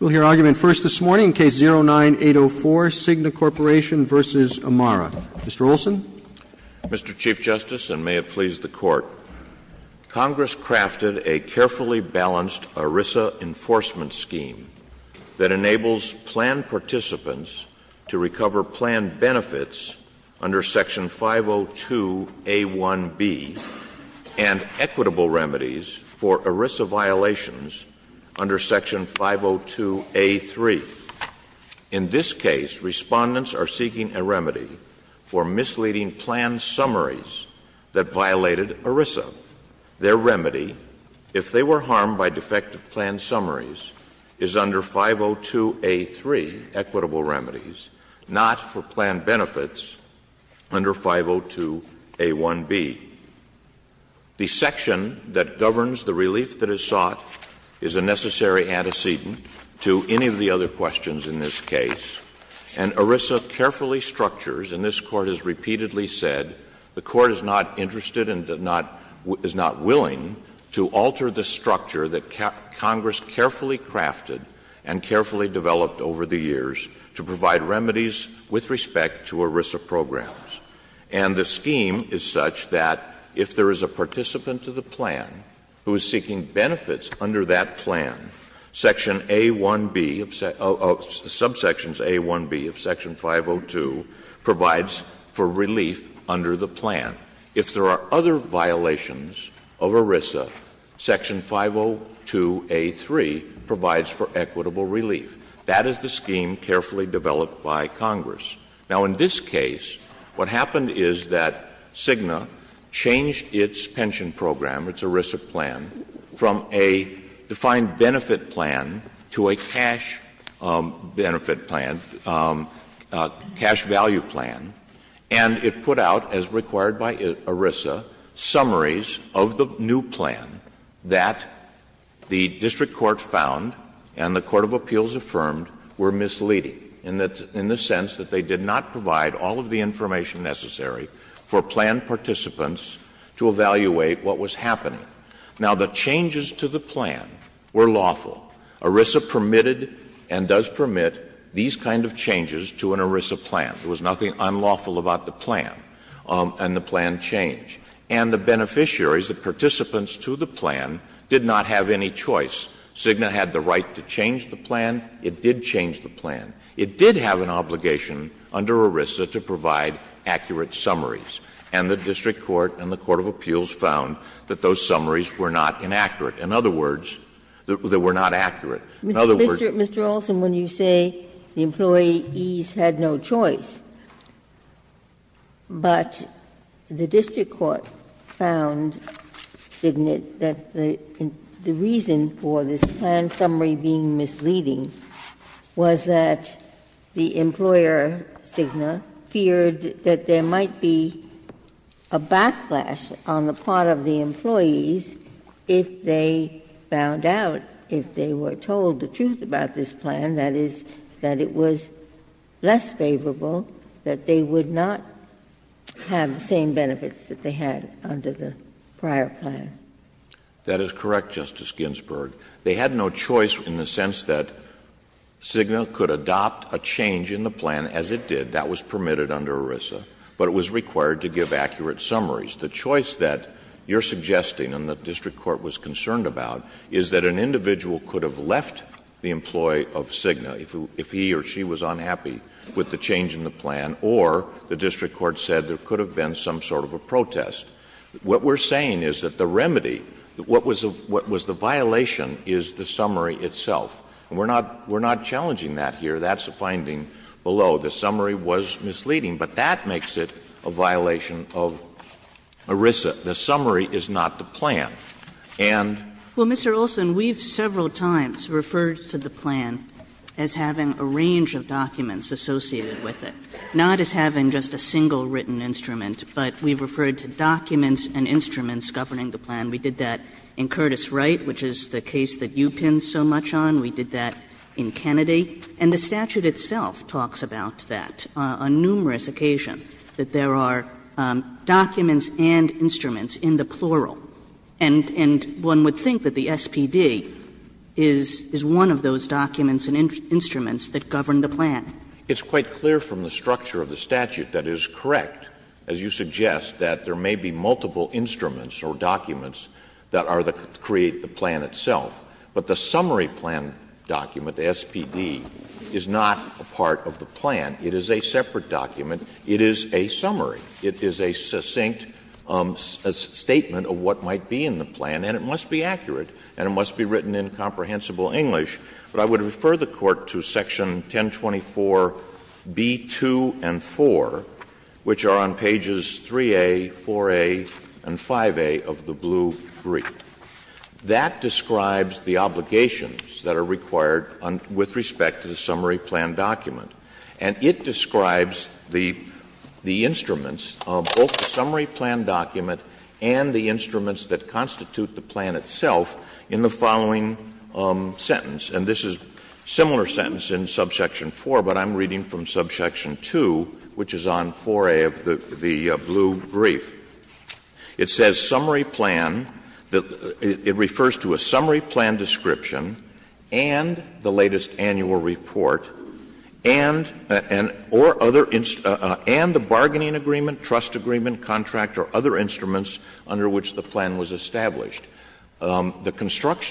We'll hear argument first this morning, Case 09-804, CIGNA Corp. v. Amara. Mr. Olson. Mr. Chief Justice, and may it please the Court, Congress crafted a carefully balanced ERISA enforcement scheme that enables planned participants to recover planned benefits under Section 502A1B and equitable remedies for ERISA violations under Section 502A3. In this case, respondents are seeking a remedy for misleading planned summaries that violated ERISA. Their remedy, if they were harmed by defective planned summaries, is under 502A3, equitable remedies, not for planned benefits under 502A1B. The section that governs the relief that is sought is a necessary antecedent to any of the other questions in this case. And ERISA carefully structures, and this Court has repeatedly said the Court is not interested and does not — is not willing to alter the structure that Congress carefully crafted and carefully developed over the years to provide remedies with respect to ERISA programs. And the scheme is such that if there is a participant to the plan who is seeking benefits under that plan, Section A1B — subsections A1B of Section 502 provides for relief under the plan. If there are other violations of ERISA, Section 502A3 provides for equitable relief. That is the scheme carefully developed by Congress. Now, in this case, what happened is that Cigna changed its pension program, its ERISA plan, from a defined benefit plan to a cash benefit plan, cash value plan. And it put out, as required by ERISA, summaries of the new plan that the district court found and the court of appeals affirmed were misleading, in the sense that they did not provide all of the information necessary for planned participants to evaluate what was happening. Now, the changes to the plan were lawful. ERISA permitted and does permit these kind of changes to an ERISA plan. There was nothing unlawful about the plan. And the plan changed. And the beneficiaries, the participants to the plan, did not have any choice. Cigna had the right to change the plan. It did change the plan. It did have an obligation under ERISA to provide accurate summaries. And the district court and the court of appeals found that those summaries were not inaccurate. In other words, they were not accurate. In other words, they were not accurate. Ginsburg. Mr. Olson, when you say the employees had no choice, but the district court found, didn't it, that the reason for this plan summary being misleading was that the employer Cigna feared that there might be a backlash on the part of the employees if they found out, if they were told the truth about this plan, that is, that it was less favorable, that they would not have the same benefits that they had under the prior plan? That is correct, Justice Ginsburg. They had no choice in the sense that Cigna could adopt a change in the plan as it did. That was permitted under ERISA. But it was required to give accurate summaries. The choice that you are suggesting and the district court was concerned about is that an individual could have left the employee of Cigna if he or she was unhappy with the change in the plan, or the district court said there could have been some sort of a protest. What we're saying is that the remedy, what was the violation is the summary itself. And we're not challenging that here. That's a finding below. The summary was misleading. But that makes it a violation of ERISA. The summary is not the plan. And Mr. Olson, we've several times referred to the plan as having a range of documents associated with it, not as having just a single written instrument. But we've referred to documents and instruments governing the plan. We did that in Curtis Wright, which is the case that you pinned so much on. We did that in Kennedy. And the statute itself talks about that on numerous occasions, that there are documents and instruments in the plural. And one would think that the SPD is one of those documents and instruments that govern the plan. It's quite clear from the structure of the statute that it is correct, as you suggest, that there may be multiple instruments or documents that are the — create the plan itself. But the summary plan document, the SPD, is not a part of the plan. It is a separate document. It is a summary. It is a succinct statement of what might be in the plan, and it must be accurate and it must be written in comprehensible English. But I would refer the Court to section 1024B2 and 4, which are on pages 3A, 4A, and 5A of the blue brief. That describes the obligations that are required with respect to the summary plan document. And it describes the instruments, both the summary plan document and the instruments that constitute the plan itself in the following sentence. And this is a similar sentence in subsection 4, but I'm reading from subsection 2, which is on 4A of the blue brief. It says, The construction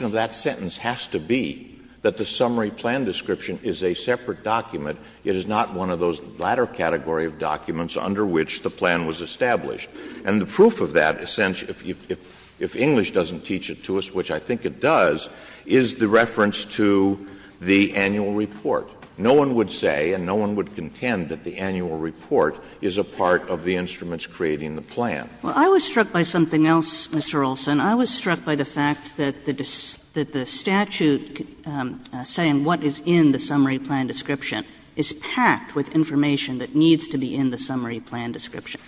of that sentence has to be that the summary plan description is a separate document. It is not one of those latter category of documents under which the plan was established. And the proof of that, essentially, if English doesn't teach it to us, which I think it does, is the reference to the annual report. No one would say and no one would contend that the annual report is a part of the instruments creating the plan. Kagan. Well, I was struck by something else, Mr. Olson. I was struck by the fact that the statute saying what is in the summary plan description is packed with information that needs to be in the summary plan description.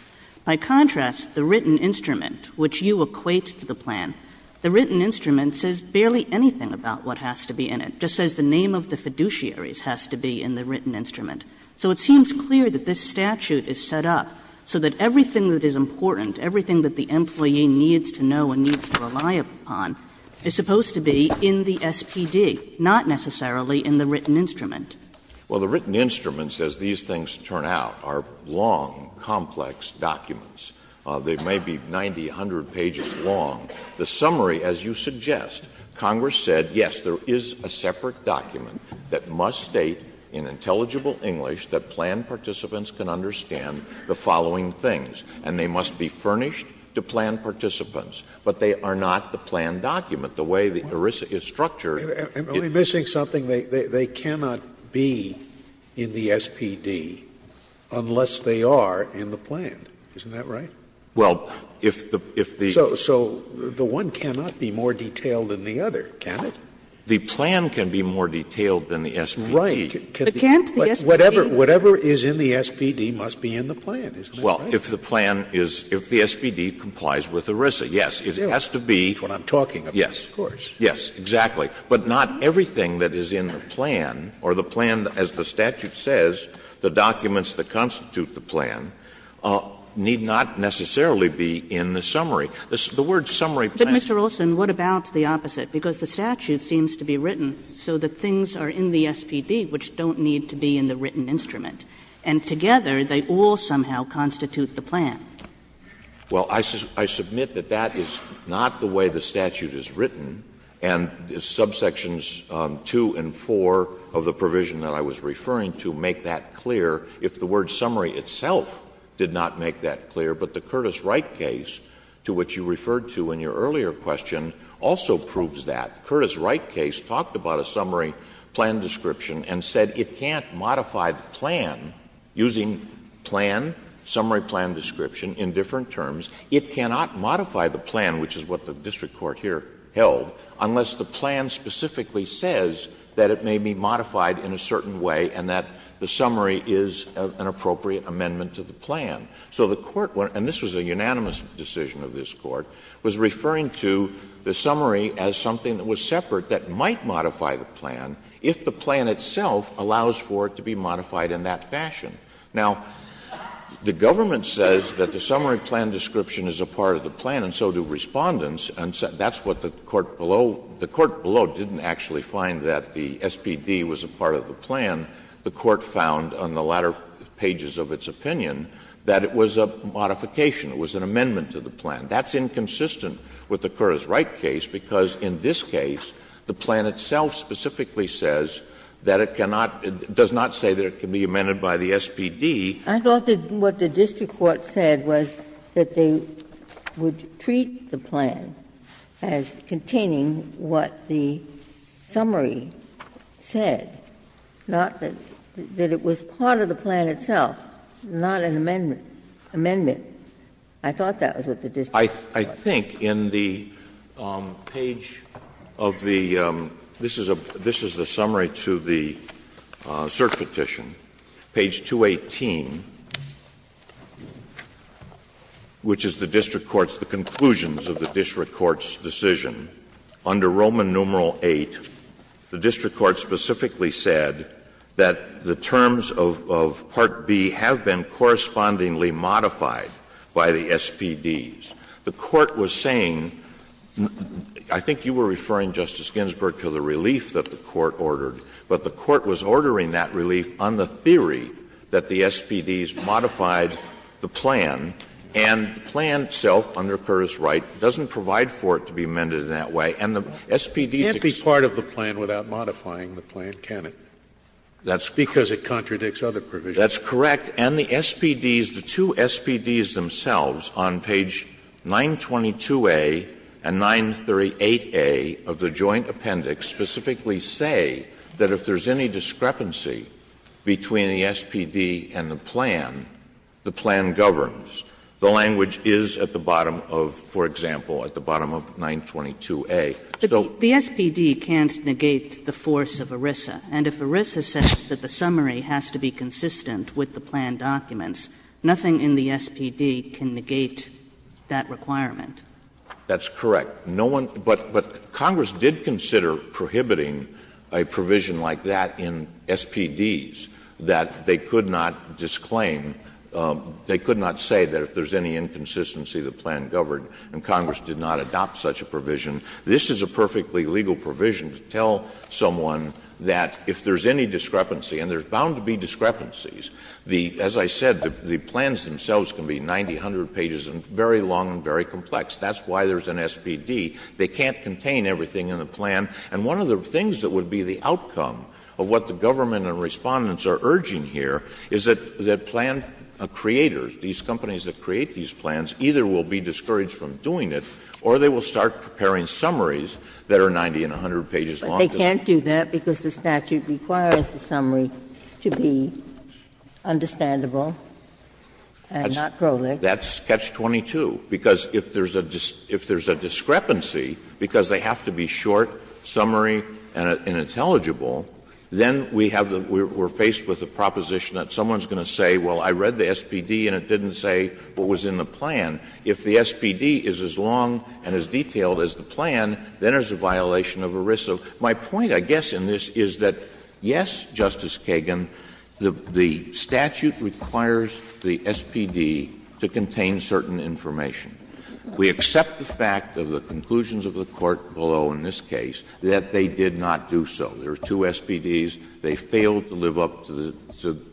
By contrast, the written instrument, which you equate to the plan, the written instrument says barely anything about what has to be in it. It just says the name of the fiduciaries has to be in the written instrument. So it seems clear that this statute is set up so that everything that is important, everything that the employee needs to know and needs to rely upon, is supposed to be in the SPD, not necessarily in the written instrument. Well, the written instruments, as these things turn out, are long, complex documents. They may be 90, 100 pages long. The summary, as you suggest, Congress said, yes, there is a separate document that must state in intelligible English that plan participants can understand the following things, and they must be furnished to plan participants. But they are not the plan document. The way the ERISA is structured. Am I missing something? They cannot be in the SPD unless they are in the plan, isn't that right? So the one cannot be more detailed than the other, can it? The plan can be more detailed than the SPD. Right. But whatever is in the SPD must be in the plan, isn't that right? Well, if the plan is, if the SPD complies with ERISA, yes, it has to be. That's what I'm talking about, of course. Yes, exactly. But not everything that is in the plan, or the plan, as the statute says, the documents that constitute the plan, need not necessarily be in the summary. The word summary plan. But, Mr. Olson, what about the opposite? Because the statute seems to be written so that things are in the SPD which don't need to be in the written instrument, and together they all somehow constitute the plan. Well, I submit that that is not the way the statute is written, and subsections 2 and 4 of the provision that I was referring to make that clear, if the word summary itself did not make that clear. But the Curtis-Wright case, to which you referred to in your earlier question, also proves that. Curtis-Wright case talked about a summary plan description and said it can't modify the plan using plan, summary plan description, in different terms. It cannot modify the plan, which is what the district court here held, unless the plan specifically says that it may be modified in a certain way and that the summary is an appropriate amendment to the plan. So the court, and this was a unanimous decision of this court, was referring to the summary as something that was separate that might modify the plan if the plan itself allows for it to be modified in that fashion. Now, the government says that the summary plan description is a part of the plan and so do Respondents, and that's what the court below — the court below didn't actually find that the SPD was a part of the plan. The court found on the latter pages of its opinion that it was a modification. It was an amendment to the plan. That's inconsistent with the Curtis-Wright case because in this case, the plan itself specifically says that it cannot — does not say that it can be amended by the SPD. I thought that what the district court said was that they would treat the plan as containing what the summary said, not that it was part of the plan itself, not an amendment. Amendment. I think in the page of the — this is a — this is the summary to the search petition, page 218, which is the district court's — the conclusions of the district court's decision. Under Roman numeral 8, the district court specifically said that the terms of part B have been correspondingly modified by the SPDs. The court was saying — I think you were referring, Justice Ginsburg, to the relief that the court ordered, but the court was ordering that relief on the theory that the SPDs modified the plan, and the plan itself, under Curtis-Wright, doesn't provide for it to be amended in that way, and the SPDs exist. Scalia. Can't be part of the plan without modifying the plan, can it? That's correct. Because it contradicts other provisions. That's correct. And the SPDs, the two SPDs themselves on page 922a and 938a of the joint appendix specifically say that if there's any discrepancy between the SPD and the plan, the plan governs. The language is at the bottom of, for example, at the bottom of 922a. So the SPD can't negate the force of ERISA. And if ERISA says that the summary has to be consistent with the plan documents, nothing in the SPD can negate that requirement. That's correct. No one — but Congress did consider prohibiting a provision like that in SPDs, that they could not disclaim, they could not say that if there's any inconsistency the plan governed, and Congress did not adopt such a provision, this is a perfectly legal provision to tell someone that if there's any discrepancy, and there's bound to be discrepancies, the — as I said, the plans themselves can be 90, 100 pages, and very long and very complex. That's why there's an SPD. They can't contain everything in the plan. And one of the things that would be the outcome of what the government and Respondents are urging here is that plan creators, these companies that create these plans, either will be discouraged from doing it, or they will start preparing summaries that are 90 and 100 pages long. But they can't do that because the statute requires the summary to be understandable and not proleg. That's Catch-22, because if there's a discrepancy, because they have to be short, summary, and intelligible, then we have the — we're faced with a proposition that someone's going to say, well, I read the SPD and it didn't say what was in the plan. If the SPD is as long and as detailed as the plan, then there's a violation of ERISA. My point, I guess, in this is that, yes, Justice Kagan, the statute requires the SPD to contain certain information. We accept the fact of the conclusions of the Court below in this case that they did not do so. There are two SPDs. They failed to live up to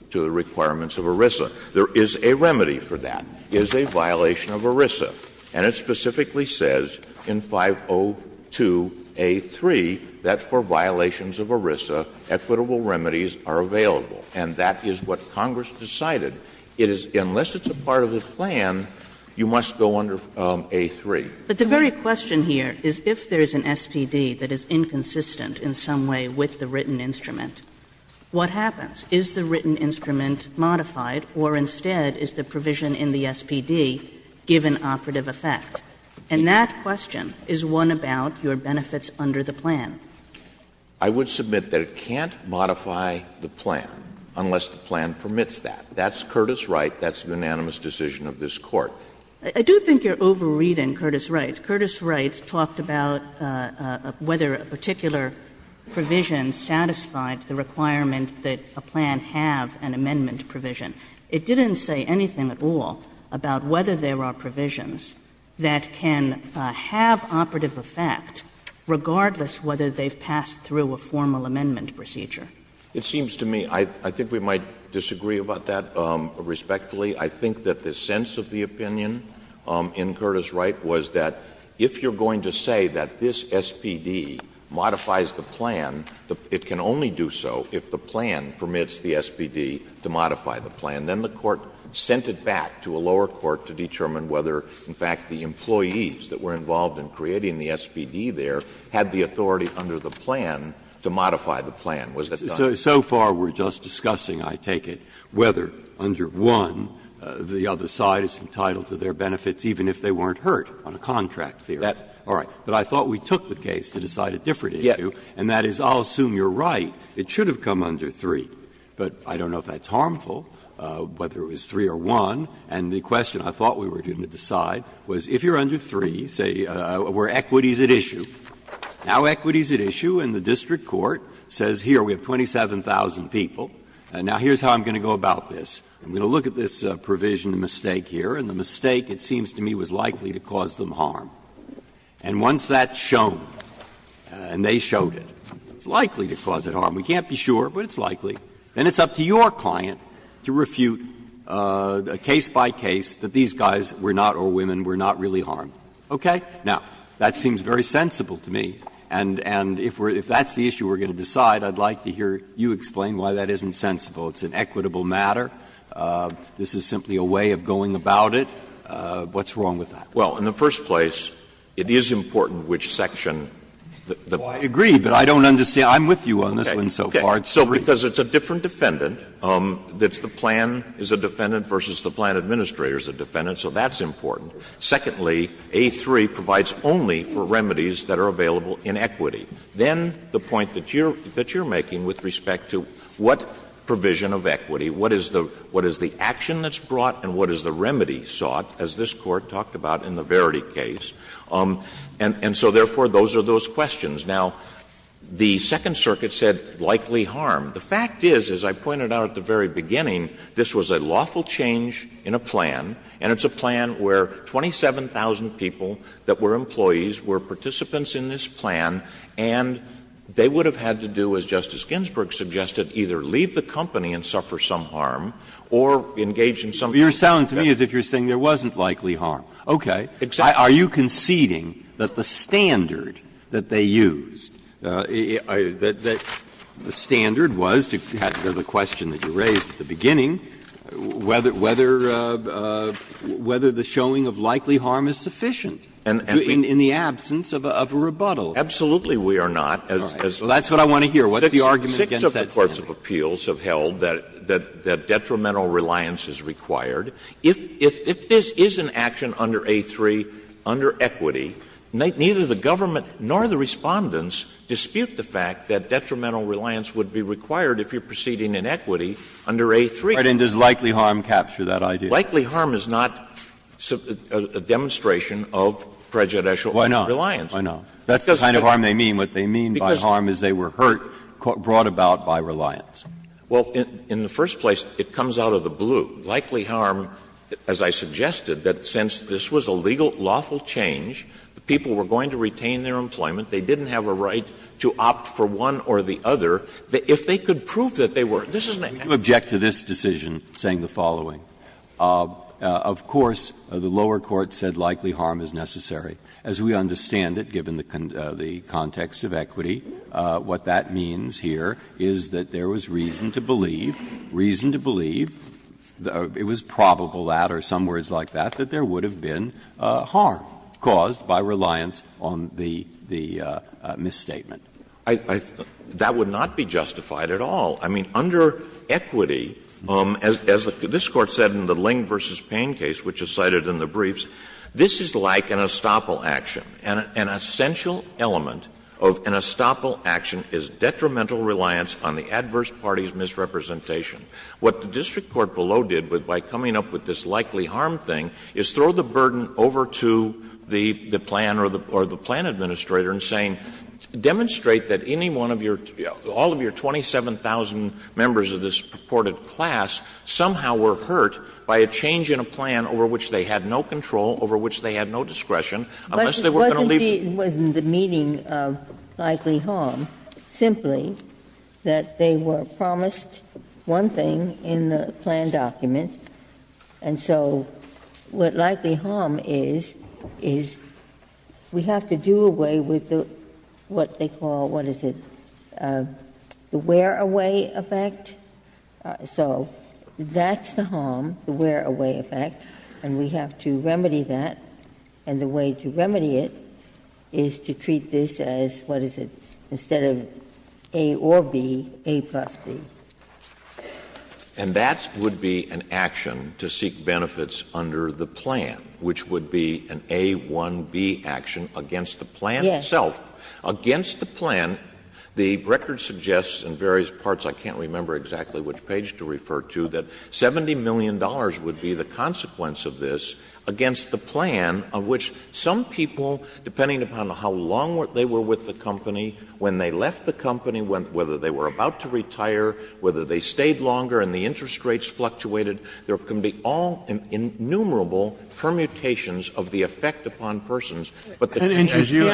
the requirements of ERISA. There is a remedy for that. There is a violation of ERISA. And it specifically says in 502A3 that for violations of ERISA, equitable remedies are available. And that is what Congress decided. It is — unless it's a part of the plan, you must go under A3. But the very question here is, if there is an SPD that is inconsistent in some way with the written instrument, what happens? Is the written instrument modified, or instead, is the provision in the SPD given operative effect? And that question is one about your benefits under the plan. I would submit that it can't modify the plan unless the plan permits that. That's Curtis Wright. That's the unanimous decision of this Court. I do think you're over-reading Curtis Wright. Curtis Wright talked about whether a particular provision satisfied the requirement that a plan have an amendment provision. It didn't say anything at all about whether there are provisions that can have operative effect regardless whether they've passed through a formal amendment procedure. It seems to me — I think we might disagree about that respectfully. I think that the sense of the opinion in Curtis Wright was that if you're going to say that this SPD modifies the plan, it can only do so if the plan permits the SPD to modify the plan. Then the Court sent it back to a lower court to determine whether, in fact, the employees that were involved in creating the SPD there had the authority under the plan to modify the plan. Was that done? Breyer. So far we're just discussing, I take it, whether under one, the other side is entitled to their benefits even if they weren't hurt on a contract theory. Is that all right? But I thought we took the case to decide a different issue, and that is, I'll assume you're right, it should have come under three. But I don't know if that's harmful, whether it was three or one, and the question I thought we were going to decide was if you're under three, say, were equities at issue. Now equity is at issue and the district court says, here, we have 27,000 people, and now here's how I'm going to go about this. I'm going to look at this provision mistake here, and the mistake, it seems to me, was likely to cause them harm. And once that's shown, and they showed it, it's likely to cause it harm. We can't be sure, but it's likely. Then it's up to your client to refute case by case that these guys were not, or women were not really harmed, okay? Now, that seems very sensible to me, and if that's the issue we're going to decide, I'd like to hear you explain why that isn't sensible. It's an equitable matter. This is simply a way of going about it. What's wrong with that? Well, in the first place, it is important which section the person is on. Breyer, I agree, but I don't understand. I'm with you on this one so far. It's a different. Okay. So because it's a different defendant, that's the plan is a defendant versus the plan administrator is a defendant, so that's important. Secondly, A3 provides only for remedies that are available in equity. Then the point that you're making with respect to what provision of equity, what is the action that's brought and what is the remedy sought, as this Court talked about in the Verity case, and so, therefore, those are those questions. Now, the Second Circuit said, likely harm. The fact is, as I pointed out at the very beginning, this was a lawful change in a plan, and it's a plan where 27,000 people that were employees were participants in this plan, and they would have had to do, as Justice Ginsburg suggested, either leave the company and suffer some harm or engage in some kind of business. Breyer, you're sounding to me as if you're saying there wasn't likely harm. Okay. Are you conceding that the standard that they used, that the standard was, to go back to the question that you raised at the beginning, whether the showing of likely harm is sufficient in the absence of a rebuttal? Absolutely we are not. Well, that's what I want to hear. What's the argument against that statement? Six of the courts of appeals have held that detrimental reliance is required. If this is an action under A3, under equity, neither the government nor the Respondents dispute the fact that detrimental reliance would be required if you're proceeding in equity under A3. Right. And does likely harm capture that idea? Likely harm is not a demonstration of prejudicial reliance. Why not? Why not? That's the kind of harm they mean. What they mean by harm is they were hurt, brought about by reliance. Well, in the first place, it comes out of the blue. Likely harm, as I suggested, that since this was a legal, lawful change, the people were going to retain their employment, they didn't have a right to opt for one or the other, if they could prove that they were. This is not an action. You object to this decision saying the following. Of course, the lower court said likely harm is necessary. As we understand it, given the context of equity, what that means here is that there was reason to believe, reason to believe, it was probable that or some words like that, that there would have been harm caused by reliance on the misstatement. I think that would not be justified at all. I mean, under equity, as this Court said in the Ling v. Payne case, which is cited in the briefs, this is like an estoppel action. An essential element of an estoppel action is detrimental reliance on the adverse party's misrepresentation. What the district court below did by coming up with this likely harm thing is throw the burden over to the plan or the plan administrator in saying, demonstrate that any one of your, all of your 27,000 members of this purported class somehow were hurt by a change in a plan over which they had no control, over which they had no discretion, unless they were going to leave the building. Ginsburg. But it wasn't the meaning of likely harm, simply that they were promised one thing in the plan document, and so what likely harm is, is we have to do away with the, what they call, what is it, the wear-away effect. So that's the harm, the wear-away effect, and we have to remedy that, and the way to remedy it is to treat this as, what is it, instead of A or B, A plus B. And that would be an action to seek benefits under the plan, which would be an A-1-B Yes. Against the plan, the record suggests in various parts, I can't remember exactly which page to refer to, that $70 million would be the consequence of this against the plan, of which some people, depending upon how long they were with the company, when they left the company, whether they were about to retire, whether they stayed longer and the interest rates fluctuated, there can be all innumerable permutations of the effect upon persons. But the plan as you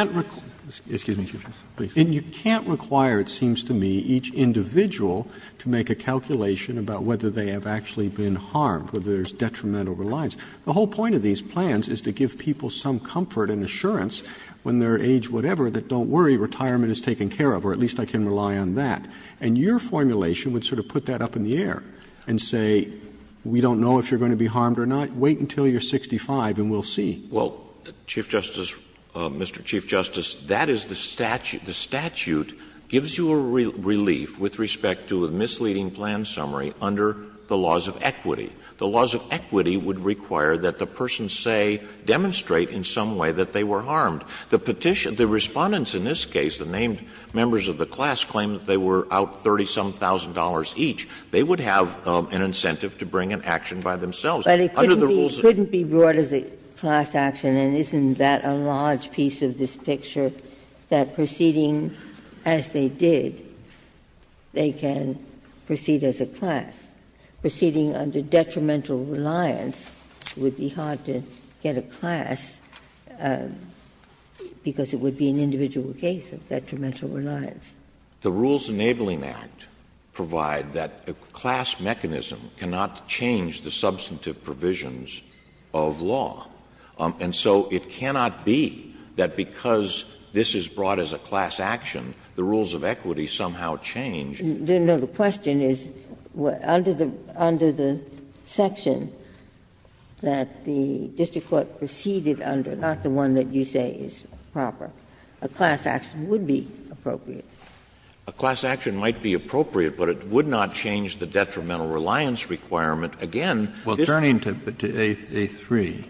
And you can't require, it seems to me, each individual to make a calculation about whether they have actually been harmed, whether there's detrimental reliance. The whole point of these plans is to give people some comfort and assurance when they're age whatever that don't worry, retirement is taken care of, or at least I can rely on that. And your formulation would sort of put that up in the air and say, we don't know if you're going to be harmed or not, wait until you're 65 and we'll see. Well, Chief Justice, Mr. Chief Justice, that is the statute. The statute gives you a relief with respect to a misleading plan summary under the laws of equity. The laws of equity would require that the person say, demonstrate in some way that they were harmed. The Respondents in this case, the named members of the class, claim that they were out $30-some-thousand each. They would have an incentive to bring an action by themselves. But it couldn't be brought as a class action, and isn't that a large piece of this picture, that proceeding as they did, they can proceed as a class? Proceeding under detrimental reliance would be hard to get a class, because it would be an individual case of detrimental reliance. The Rules Enabling Act provide that a class mechanism cannot change the substantive provisions of law. And so it cannot be that because this is brought as a class action, the rules of equity somehow change. Ginsburg. No, the question is, under the section that the district court proceeded under, not the one that you say is proper, a class action would be appropriate? A class action might be appropriate, but it would not change the detrimental reliance requirement. Again, this is a class action. Kennedy. I have a question to A3.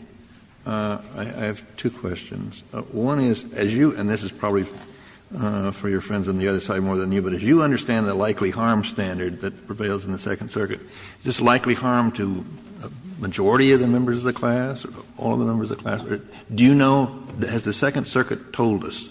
I have two questions. One is, as you — and this is probably for your friends on the other side more than you — but as you understand the likely harm standard that prevails in the Second Circuit, this likely harm to a majority of the members of the class, all the members of the class, do you know, has the Second Circuit told us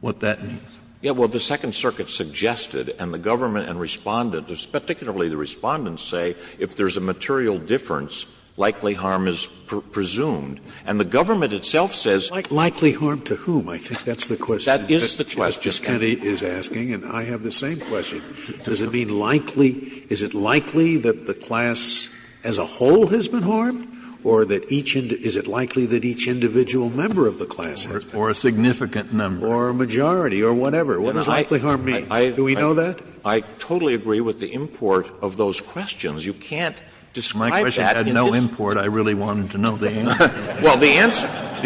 what that means? Yes, well, the Second Circuit suggested, and the government and Respondent particularly the Respondents say, if there is a material difference, likely harm is presumed. And the government itself says — Likely harm to whom? I think that's the question. That is the question. As Justice Kennedy is asking, and I have the same question. Does it mean likely — is it likely that the class as a whole has been harmed? Or that each — is it likely that each individual member of the class has been harmed? Or a significant number. Or a majority or whatever. What does likely harm mean? Do we know that? I totally agree with the import of those questions. You can't describe that in this — My question had no import. I really wanted to know the answer. Well, the answer —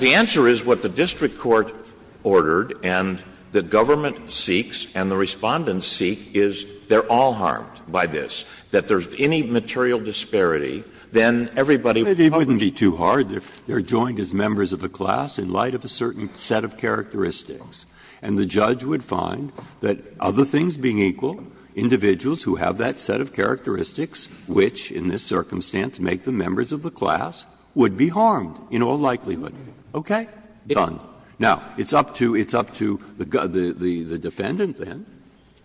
the answer is what the district court ordered and the government seeks and the Respondents seek is they are all harmed by this. That there is any material disparity, then everybody — It wouldn't be too hard if they are joined as members of a class in light of a certain set of characteristics. And the judge would find that other things being equal, individuals who have that set of characteristics which in this circumstance make them members of the class, would be harmed in all likelihood. Okay? Done. Now, it's up to — it's up to the defendant, then,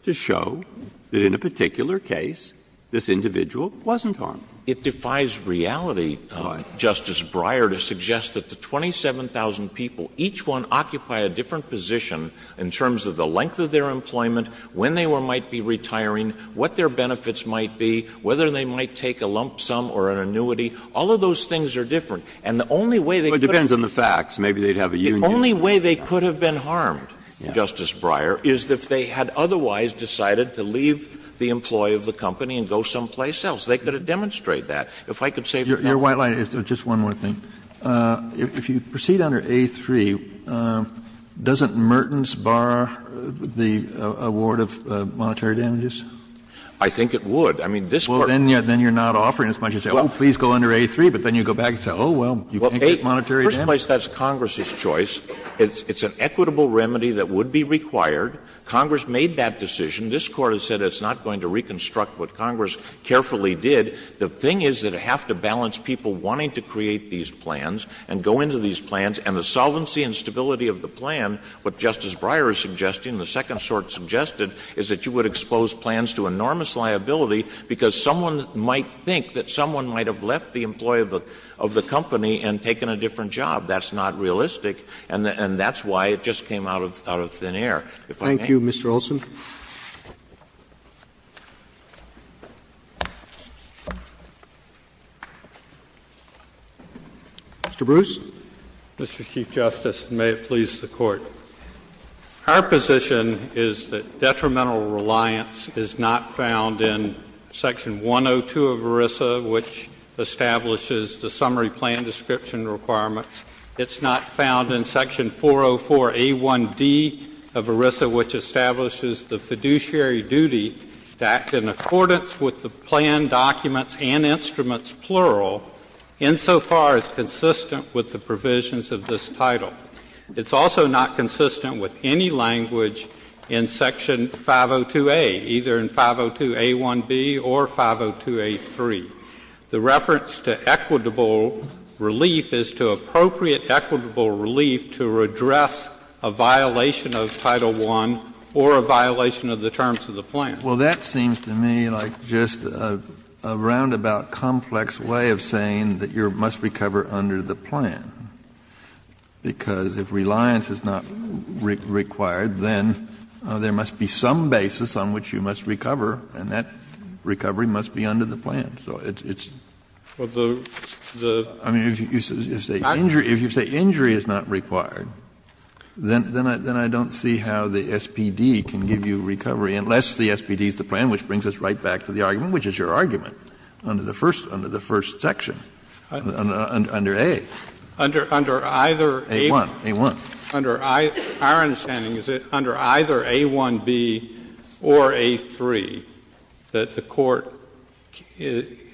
to show that in a particular case this individual wasn't harmed. It defies reality, Justice Breyer, to suggest that the 27,000 people, each one occupied by a different position in terms of the length of their employment, when they might be retiring, what their benefits might be, whether they might take a lump sum or an annuity, all of those things are different. And the only way they could have been harmed, Justice Breyer, is if they had otherwise decided to leave the employ of the company and go someplace else. They could have demonstrated that. If I could say for example — Kennedy Doesn't Mertens bar the award of monetary damages? Verrilli, I think it would. I mean, this Court— Kennedy Well, then you're not offering as much as, oh, please go under A3, but then you go back and say, oh, well, you can't get monetary damages. Verrilli, first place, that's Congress's choice. It's an equitable remedy that would be required. Congress made that decision. This Court has said it's not going to reconstruct what Congress carefully did. The thing is that it would have to balance people wanting to create these plans and go into these plans, and the solvency and stability of the plan, what Justice Breyer is suggesting, the second sort suggested, is that you would expose plans to enormous liability because someone might think that someone might have left the employ of the company and taken a different job. That's not realistic. And that's why it just came out of thin air. If I may. Roberts Thank you, Mr. Olson. Mr. Bruce. Bruce Mr. Chief Justice, and may it please the Court, our position is that detrimental reliance is not found in section 102 of ERISA, which establishes the summary plan description requirements. It's not found in section 404A1D of ERISA, which establishes the fiduciary duty to act in accordance with the plan documents and instruments, plural, insofar as consistent with the provisions of this title. It's also not consistent with any language in section 502A, either in 502A1B or 502A3. The reference to equitable relief is to appropriate equitable relief to redress a violation of Title I or a violation of the terms of the plan. Kennedy Well, that seems to me like just a roundabout complex way of saying that you must recover under the plan, because if reliance is not required, then there must be some basis on which you must recover, and that recovery must be under the plan. So it's the the Kennedy I mean, if you say injury is not required, then I don't see how the SPD can give you recovery, unless the SPD is the plan, which brings us right back to the argument, which is your argument, under the first section, under A. Under either A1. A1. The SPD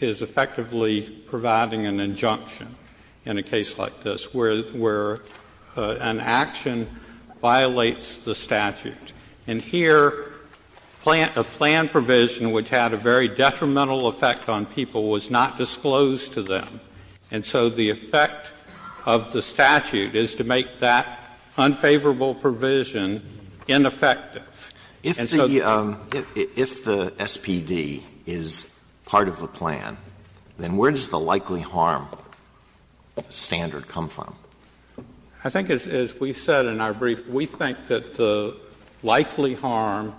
is effectively providing an injunction in a case like this, where an action violates the statute. And here, a plan provision which had a very detrimental effect on people was not disclosed to them. And so the effect of the statute is to make that unfavorable provision ineffective. And so Alito If the SPD is part of the plan, then where does the likely harm standard come from? Kennedy I think as we said in our brief, we think that the likely harm,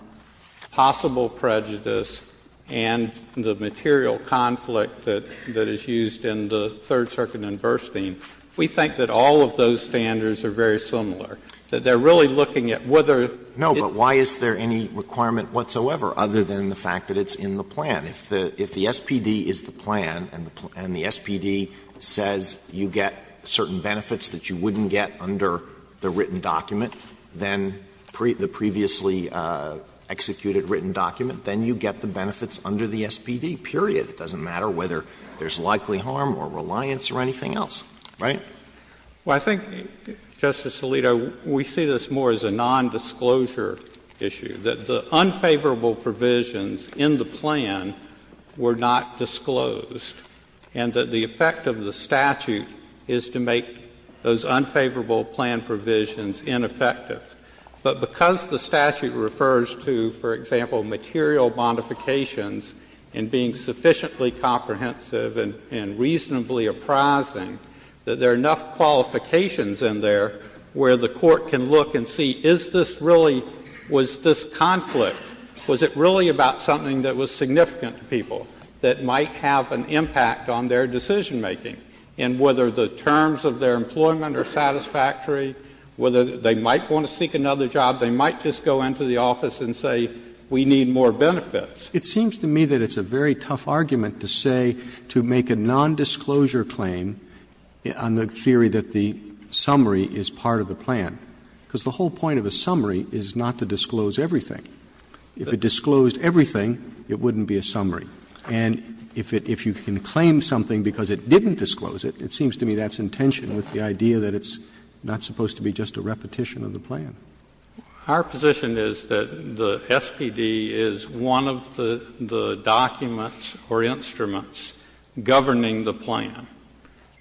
possible prejudice, and the material conflict that is used in the Third Circuit in Burstein, we think that all of those standards are very similar. They're really looking at whether Alito No, but why is there any requirement whatsoever, other than the fact that it's in the plan? If the SPD is the plan and the SPD says you get certain benefits that you wouldn't get under the written document, then the previously executed written document, then you get the benefits under the SPD, period. It doesn't matter whether there's likely harm or reliance or anything else, right? Well, I think, Justice Alito, we see this more as a nondisclosure issue, that the unfavorable provisions in the plan were not disclosed, and that the effect of the statute is to make those unfavorable plan provisions ineffective. But because the statute refers to, for example, material modifications and being there, where the court can look and see, is this really, was this conflict, was it really about something that was significant to people that might have an impact on their decisionmaking, and whether the terms of their employment are satisfactory, whether they might want to seek another job, they might just go into the office and say, we need more benefits. Roberts It seems to me that it's a very tough argument to say, to make a nondisclosure claim on the theory that the summary is part of the plan, because the whole point of a summary is not to disclose everything. If it disclosed everything, it wouldn't be a summary. And if it can claim something because it didn't disclose it, it seems to me that's in tension with the idea that it's not supposed to be just a repetition of the plan. Our position is that the SPD is one of the documents or instruments governing the plan.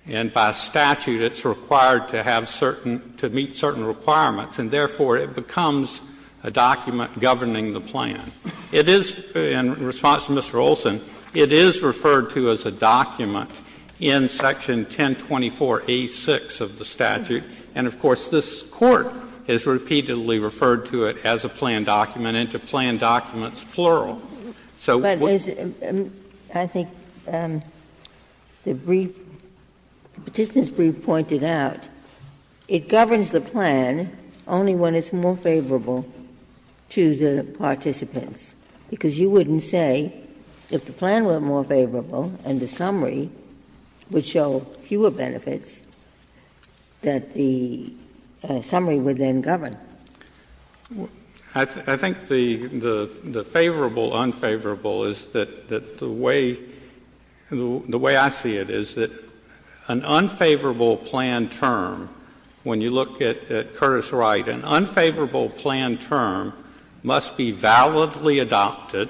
And by statute, it's required to have certain, to meet certain requirements, and therefore it becomes a document governing the plan. It is, in response to Mr. Olson, it is referred to as a document in section 1024A6 of the statute. And of course, this Court has repeatedly referred to it as a plan document and to plan documents plural. So what's the point? Ginsburg. But as I think the brief, the Petitioner's brief pointed out, it governs the plan only when it's more favorable to the participants, because you wouldn't say if the plan were more favorable and the summary would show fewer benefits, that the summary would then govern. I think the favorable-unfavorable is that the way I see it is that an unfavorable plan term, when you look at Curtis Wright, an unfavorable plan term must be validly adopted,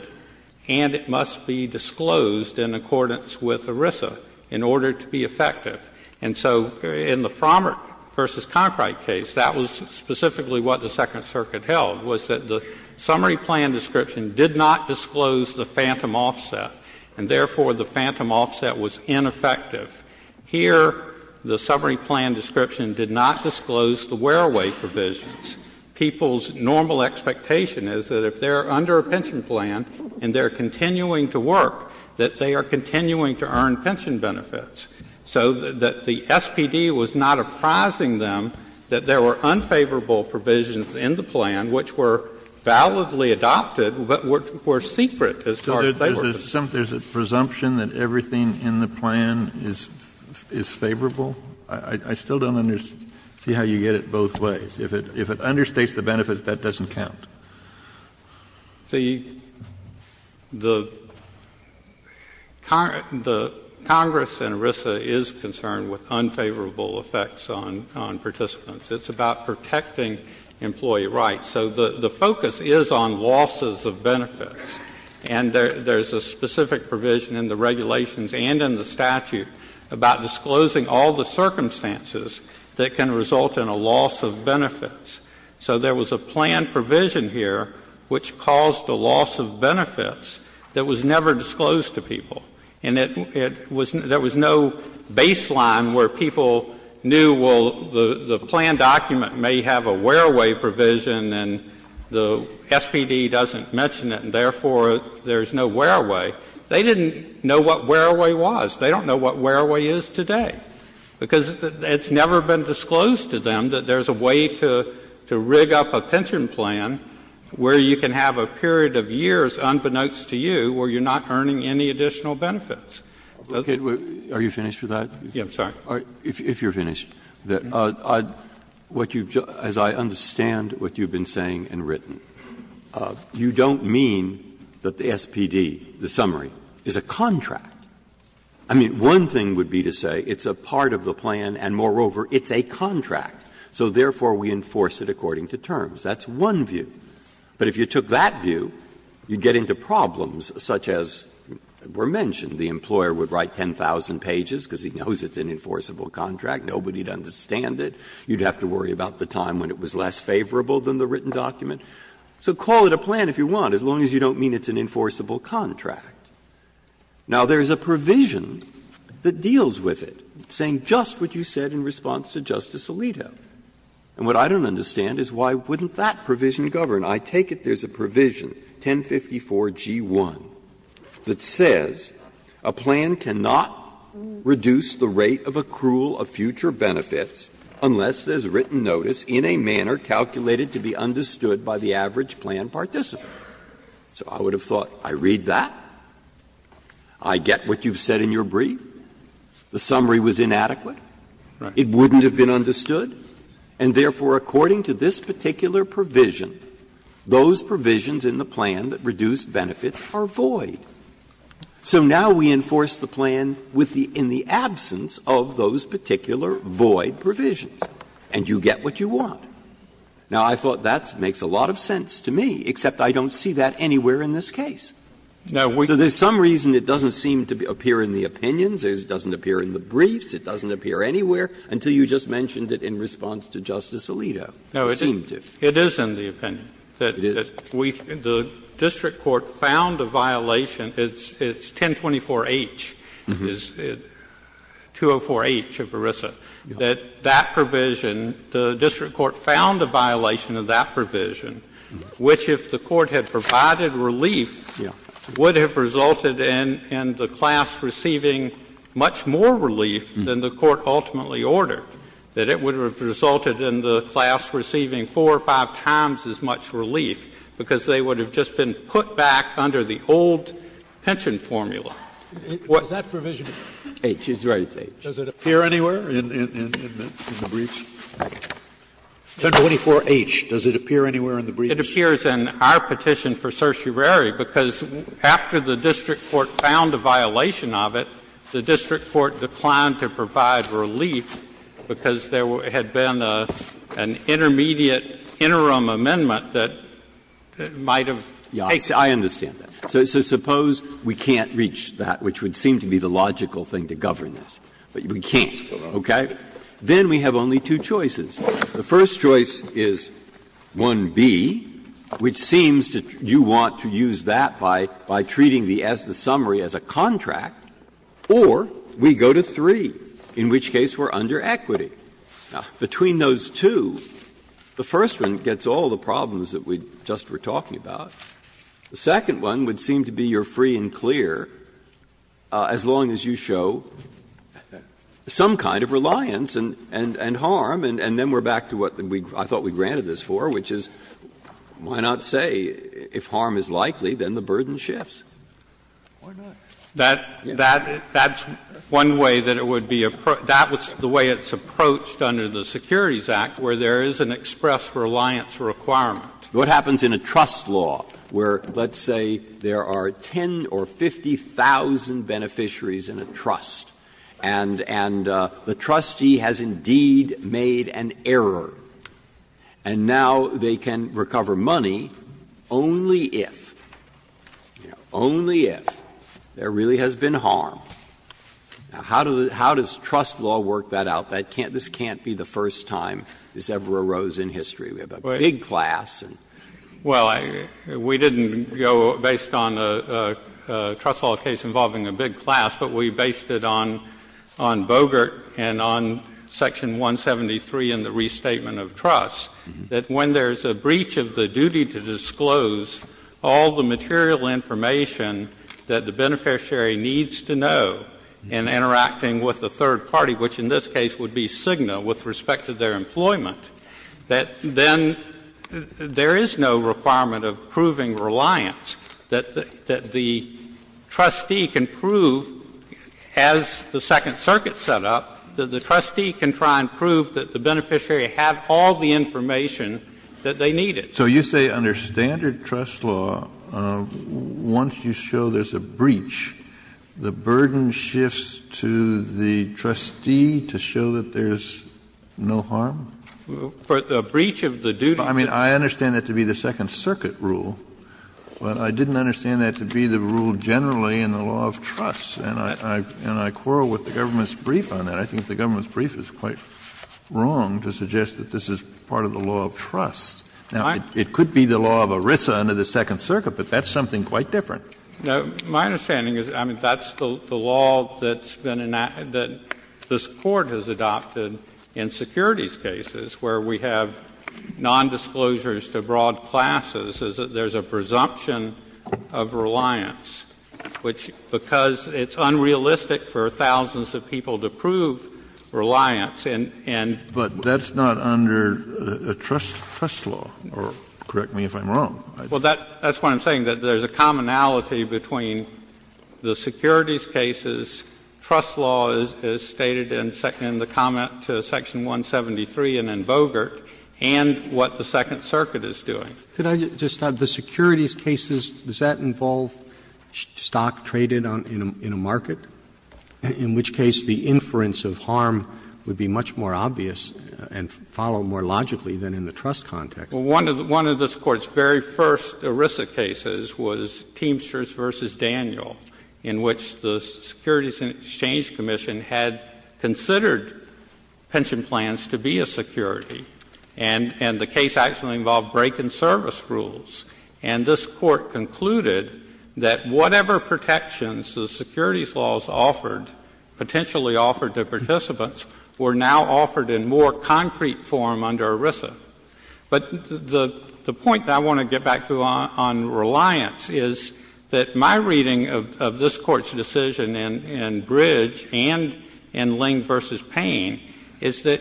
and it must be disclosed in accordance with ERISA in order to be effective. And so in the Frommert v. Conkright case, that was specifically what the Second Circuit held, was that the summary plan description did not disclose the phantom offset, and therefore the phantom offset was ineffective. Here the summary plan description did not disclose the wear-away provisions. So what I think is people's normal expectation is that if they are under a pension plan and they are continuing to work, that they are continuing to earn pension benefits, so that the SPD was not apprising them that there were unfavorable provisions in the plan which were validly adopted, but which were secret as far as they were concerned. Kennedy. So there's a presumption that everything in the plan is favorable? I still don't understand how you get it both ways. If it understates the benefits, that doesn't count. The Congress in ERISA is concerned with unfavorable effects on participants. It's about protecting employee rights. So the focus is on losses of benefits, and there's a specific provision in the regulations and in the statute about disclosing all the circumstances that can result in a loss of benefits. So there was a plan provision here which caused a loss of benefits that was never disclosed to people. And it was — there was no baseline where people knew, well, the plan document may have a wear-away provision and the SPD doesn't mention it and therefore there's no wear-away. They didn't know what wear-away was. They don't know what wear-away is today, because it's never been disclosed to them that there's a way to rig up a pension plan where you can have a period of years unbeknownst to you where you're not earning any additional benefits. Breyer, are you finished with that? Yes, I'm sorry. If you're finished, as I understand what you've been saying and written, you don't mean that the SPD, the summary, is a contract. I mean, one thing would be to say it's a part of the plan and, moreover, it's a contract. So therefore, we enforce it according to terms. That's one view. But if you took that view, you'd get into problems such as were mentioned. The employer would write 10,000 pages because he knows it's an enforceable contract. Nobody would understand it. You'd have to worry about the time when it was less favorable than the written document. So call it a plan if you want, as long as you don't mean it's an enforceable contract. Now, there's a provision that deals with it, saying just what you said in response to Justice Alito. And what I don't understand is why wouldn't that provision govern? I take it there's a provision, 1054g1, that says a plan cannot reduce the rate of accrual of future benefits unless there's written notice in a manner calculated to be understood by the average plan participant. So I would have thought, I read that, I get what you've said in your brief, the summary was inadequate. It wouldn't have been understood. And therefore, according to this particular provision, those provisions in the plan that reduce benefits are void. So now we enforce the plan with the — in the absence of those particular void provisions, and you get what you want. Now, I thought that makes a lot of sense to me, except I don't see that anywhere in this case. So there's some reason it doesn't seem to appear in the opinions, it doesn't appear in the briefs, it doesn't appear anywhere, until you just mentioned it in response to Justice Alito. It seemed to. It is in the opinion. It is. The district court found a violation. It's 1024h, 204h of ERISA, that that provision, the district court found a violation of that provision, which, if the court had provided relief, would have resulted in the class receiving much more relief than the court ultimately ordered, that it would have resulted in the class receiving four or five times as much relief, because they would have just been put back under the old pension formula. Was that provision H? It's right, it's H. Does it appear anywhere in the briefs? 1024h, does it appear anywhere in the briefs? It appears in our petition for certiorari, because after the district court found a violation of it, the district court declined to provide relief because there had been an intermediate interim amendment that might have taken place. Breyer. I understand that. So suppose we can't reach that, which would seem to be the logical thing to govern this, but we can't, okay? Then we have only two choices. The first choice is 1B, which seems to you want to use that by treating the summary as a contract, or we go to 3, in which case we are under equity. Between those two, the first one gets all the problems that we just were talking about. The second one would seem to be you are free and clear as long as you show some kind of reliance and harm, and then we are back to what I thought we granted this for, which is, why not say if harm is likely, then the burden shifts? That's one way that it would be the way it's approached under the Securities Act, where there is an express reliance requirement. What happens in a trust law where, let's say, there are 10 or 50,000 beneficiaries in a trust, and the trustee has indeed made an error, and now they can recover money only if, you know, only if there really has been harm. Now, how does trust law work that out? This can't be the first time this ever arose in history. We have a big class. Well, we didn't go based on a trust law case involving a big class, but we based it on Bogert and on Section 173 in the Restatement of Trusts, that when there is a breach of the duty to disclose all the material information that the beneficiary needs to know in interacting with a third party, which in this case would be Cigna, with respect to their employment, that then there is no requirement of proving reliance, that the trustee can prove, as the Second Circuit set up, that the trustee can try and prove that the beneficiary had all the information that they needed. So you say under standard trust law, once you show there's a breach, the burden shifts to the trustee to show that there's no harm? A breach of the duty to disclose all the information that the beneficiary needs to know in interacting I mean, I understand that to be the Second Circuit rule, but I didn't understand that to be the rule generally in the law of trust. And I quarrel with the government's brief on that. I think the government's brief is quite wrong to suggest that this is part of the law of trust. Now, it could be the law of ERISA under the Second Circuit, but that's something quite different. No, my understanding is, I mean, that's the law that's been enacted, that this Court has adopted in securities cases, where we have nondisclosures to broad classes, is that there's a presumption of reliance, which, because it's unrealistic for thousands of people to prove reliance, and But that's not under trust law, correct me if I'm wrong. Well, that's what I'm saying, that there's a commonality between the securities cases, trust law as stated in the comment to Section 173 and in Bogert, and what the Second Circuit is doing. Could I just add, the securities cases, does that involve stock traded in a market, in which case the inference of harm would be much more obvious and follow more logically than in the trust context? Well, one of this Court's very first ERISA cases was Teamsters v. Daniel, in which the Securities and Exchange Commission had considered pension plans to be a security, and the case actually involved break-in service rules. And this Court concluded that whatever protections the securities laws offered, potentially offered to participants, were now offered in more concrete form under ERISA. But the point that I want to get back to on reliance is that my reading of this Court's decision in Bridge and in Ling v. Payne is that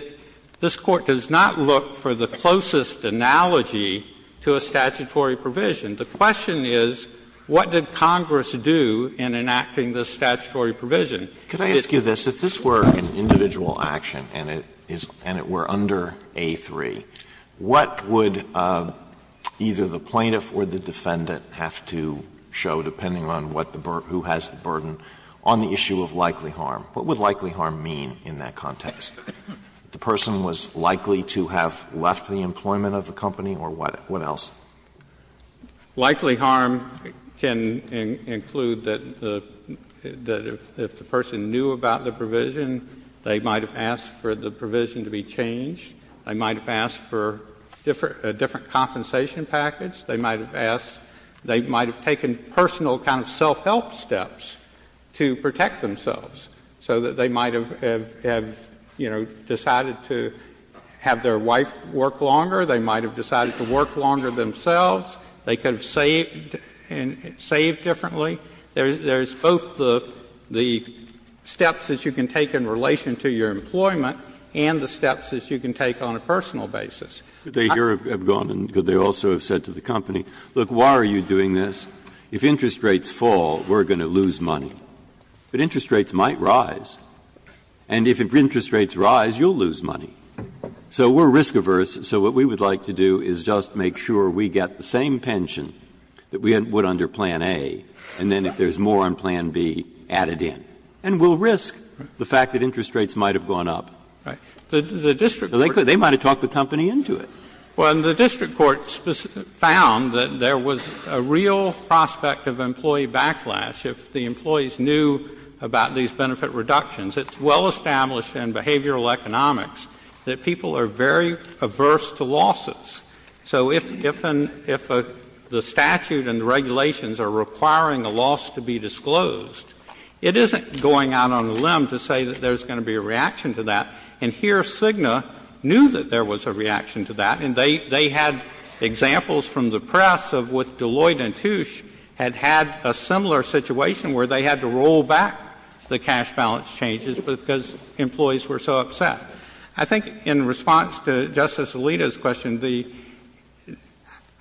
this Court does not look for the closest analogy to a statutory provision. The question is, what did Congress do in enacting this statutory provision? Could I ask you this? If this were an individual action and it were under A3, what would either the plaintiff or the defendant have to show, depending on who has the burden, on the issue of likely harm? What would likely harm mean in that context? The person was likely to have left the employment of the company or what else? Likely harm can include that if the person knew about the provision, they might have asked for the provision to be changed. They might have asked for a different compensation package. They might have asked, they might have taken personal kind of self-help steps to protect themselves, so that they might have, you know, decided to have their wife work longer. They might have decided to work longer themselves. They could have saved differently. There's both the steps that you can take in relation to your employment and the steps that you can take on a personal basis. Breyer. Breyer. Breyer. They could have gone and said to the company, look, why are you doing this? If interest rates fall, we're going to lose money. But interest rates might rise. And if interest rates rise, you'll lose money. So we're risk averse, so what we would like to do is just make sure we get the same pension that we would under Plan A and then if there's more on Plan B, add it in. Right. The district court can't do that. Well, the district court found that there was a real prospect of employee backlash if the employees knew about these benefit reductions. It's well established in behavioral economics that people are very averse to losses. So if the statute and the regulations are requiring a loss to be disclosed, it isn't going out on a limb to say that there's going to be a reaction to that. And here Cigna knew that there was a reaction to that. And they had examples from the press of with Deloitte and Touche had had a similar situation where they had to roll back the cash balance changes because employees were so upset. I think in response to Justice Alito's question,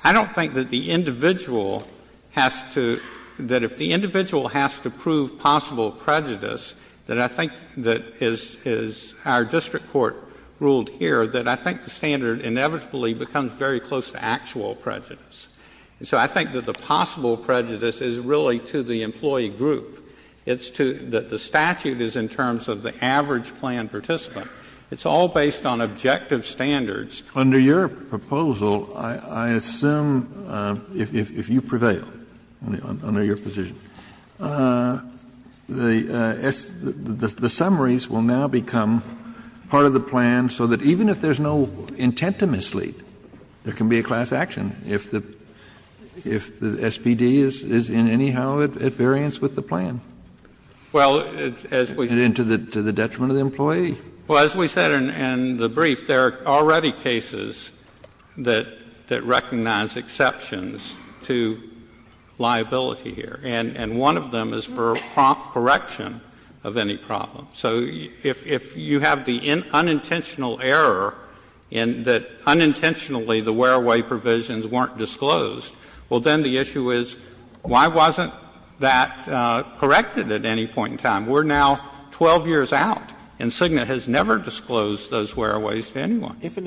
I don't think that the individual has to, that if the individual has to prove possible prejudice, that I think that is our district court ruled here, that I think the standard inevitably becomes very close to actual prejudice. And so I think that the possible prejudice is really to the employee group. It's to, that the statute is in terms of the average plan participant. It's all based on objective standards. Kennedy. Under your proposal, I assume, if you prevail, under your position, the summaries will now become part of the plan so that even if there's no intent to mislead, there can be a class action if the SPD is anyhow at variance with the plan. And to the detriment of the employee. Well, as we said in the brief, there are already cases that recognize exceptions to liability here. And one of them is for prompt correction of any problem. So if you have the unintentional error in that unintentionally the wear-away provisions weren't disclosed, well, then the issue is why wasn't that corrected at any point in time? We're now 12 years out, and Cigna has never disclosed those wear-aways to anyone. If an administrator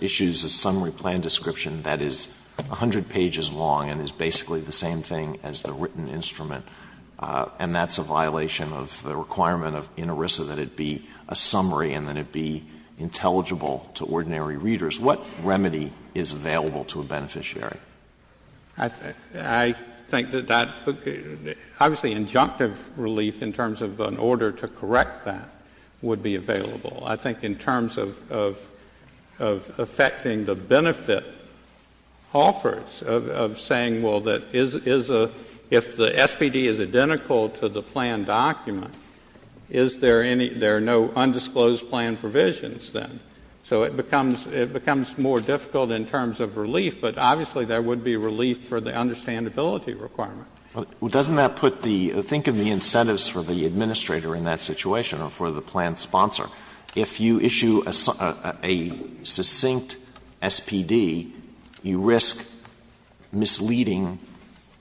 issues a summary plan description that is 100 pages long and is basically the same thing as the written instrument, and that's a violation of the requirement in ERISA that it be a summary and that it be intelligible to ordinary readers, what remedy is available to a beneficiary? I think that that, obviously, injunctive relief in terms of an order to correct that would be available. I think in terms of affecting the benefit offers of saying, well, that is, if the SPD is identical to the plan document, is there any, there are no undisclosed plan provisions then. So it becomes more difficult in terms of relief. But obviously, there would be relief for the understandability requirement. Alitoson Well, doesn't that put the, think of the incentives for the administrator in that situation or for the plan sponsor. If you issue a succinct SPD, you risk misleading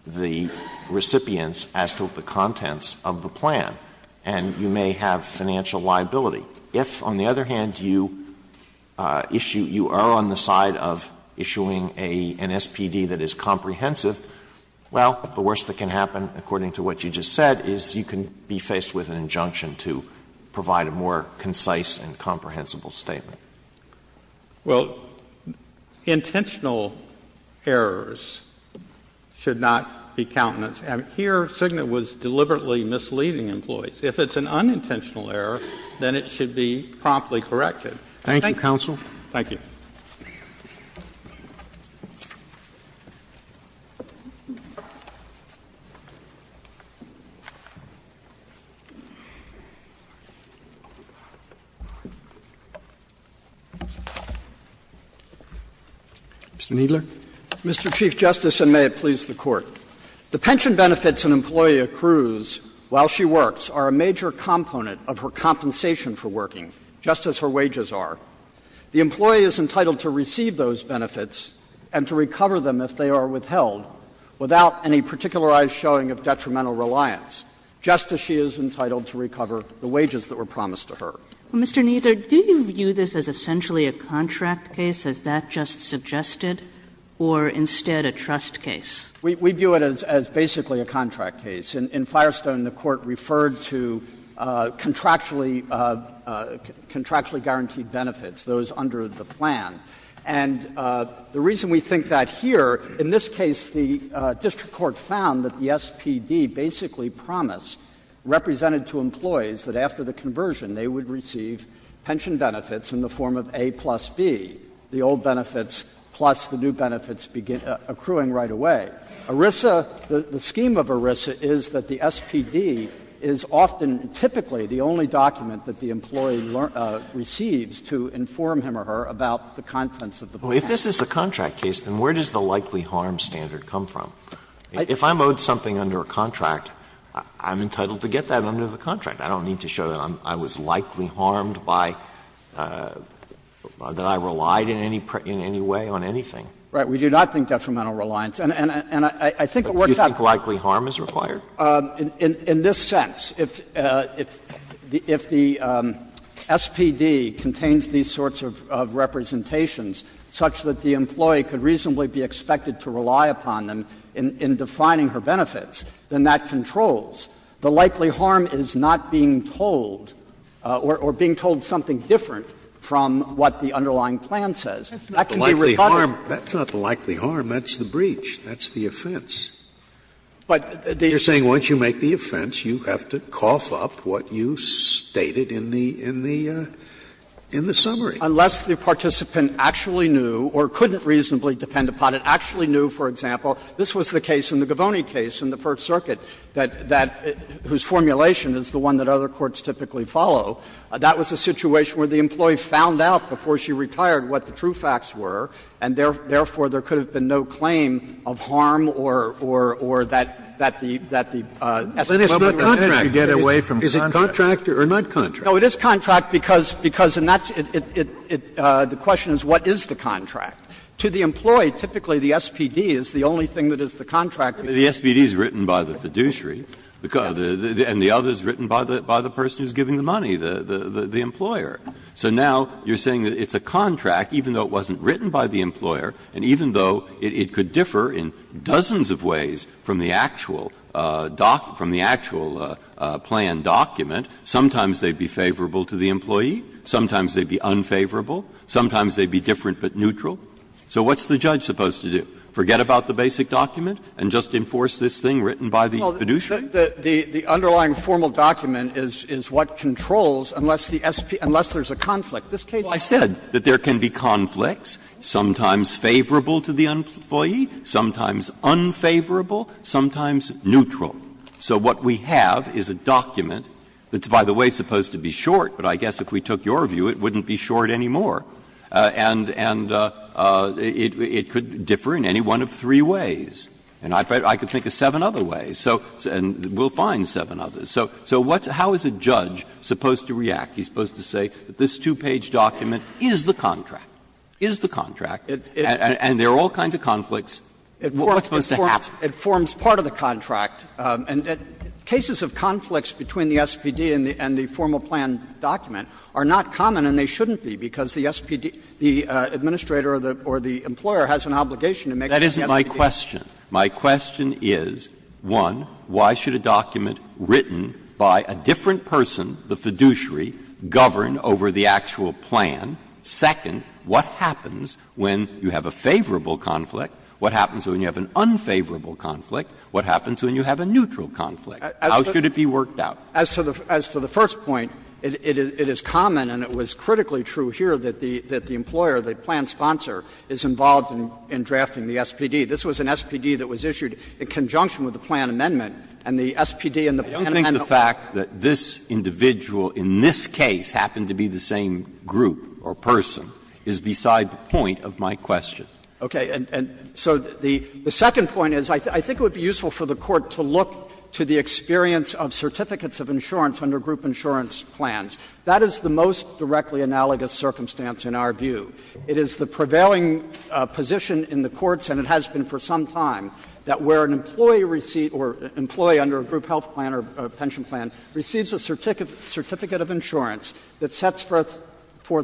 the recipients as to the contents of the plan, and you may have financial liability. If, on the other hand, you issue, you are on the side of issuing a, an SPD that is comprehensive, well, the worst that can happen, according to what you just said, is you can be faced with an injunction to provide a more concise and comprehensible statement. Well, intentional errors should not be countenance. And here, Cigna was deliberately misleading employees. If it's an unintentional error, then it should be promptly corrected. Roberts. Thank you, counsel. Thank you. Mr. Kneedler. Mr. Chief Justice, and may it please the Court. The pension benefits an employee accrues while she works are a major component of her compensation for working, just as her wages are. The employee is entitled to receive those benefits and to recover them if they are withheld, without any particularized showing of detrimental reliance, just as she is entitled to recover the wages that were promised to her. Mr. Kneedler, do you view this as essentially a contract case, as that just suggested, or instead a trust case? We view it as basically a contract case. In Firestone, the Court referred to contractually guaranteed benefits, those under the plan. And the reason we think that here, in this case the district court found that the SPD basically promised, represented to employees, that after the conversion, they would receive pension benefits in the form of A plus B, the old benefits plus the new benefits accruing right away. ERISA, the scheme of ERISA, is that the SPD is often typically the only document that the employee receives to inform him or her about the contents of the plan. If this is a contract case, then where does the likely harm standard come from? If I'm owed something under a contract, I'm entitled to get that under the contract. I don't need to show that I was likely harmed by or that I relied in any way on anything. Right. We do not think detrimental reliance. And I think it works out. Do you think likely harm is required? In this sense. If the SPD contains these sorts of representations such that the employee could reasonably be expected to rely upon them in defining her benefits, then that controls. The likely harm is not being told or being told something different from what the underlying plan says. That can be rebutted. Scalia. That's not the likely harm. That's the breach. That's the offense. You're saying once you make the offense, you have to cough up what you stated in the summary. Unless the participant actually knew or couldn't reasonably depend upon it, actually knew, for example, this was the case in the Govoni case in the First Circuit, whose formulation is the one that other courts typically follow. That was a situation where the employee found out before she retired what the true facts were, and therefore there could have been no claim of harm or that the SPD would get away from the contract. Is it contract or not contract? No, it is contract, because the question is what is the contract. To the employee, typically the SPD is the only thing that is the contract. Breyer. The SPD is written by the fiduciary, and the other is written by the person who is giving the money, the employer. So now you're saying that it's a contract, even though it wasn't written by the employer, and even though it could differ in dozens of ways from the actual plan document, sometimes they'd be favorable to the employee, sometimes they'd be unfavorable, sometimes they'd be different but neutral. So what's the judge supposed to do? Forget about the basic document and just enforce this thing written by the fiduciary? Well, the underlying formal document is what controls unless the SPD, unless there's a conflict. This case is not a conflict. Well, I said that there can be conflicts, sometimes favorable to the employee, sometimes unfavorable, sometimes neutral. So what we have is a document that's, by the way, supposed to be short, but I guess if we took your view, it wouldn't be short anymore. And it could differ in any one of three ways. And I could think of seven other ways, and we'll find seven others. So how is a judge supposed to react? He's supposed to say that this two-page document is the contract, is the contract, and there are all kinds of conflicts. What's supposed to happen? It forms part of the contract. And cases of conflicts between the SPD and the formal plan document are not common, and they shouldn't be, because the SPD, the administrator or the employer has an obligation to make sure that the SPD does. That isn't my question. My question is, one, why should a document written by a different person, the fiduciary, govern over the actual plan? Second, what happens when you have a favorable conflict? What happens when you have an unfavorable conflict? What happens when you have a neutral conflict? How should it be worked out? As to the first point, it is common, and it was critically true here, that the employer, the plan sponsor, is involved in drafting the SPD. This was an SPD that was issued in conjunction with the plan amendment, and the SPD and the penitentiary. I don't think the fact that this individual in this case happened to be the same group or person is beside the point of my question. Okay. And so the second point is, I think it would be useful for the Court to look to the experience of certificates of insurance under group insurance plans. That is the most directly analogous circumstance in our view. It is the prevailing position in the courts, and it has been for some time, that where an employee receipt or employee under a group health plan or pension plan receives a certificate of insurance that sets forth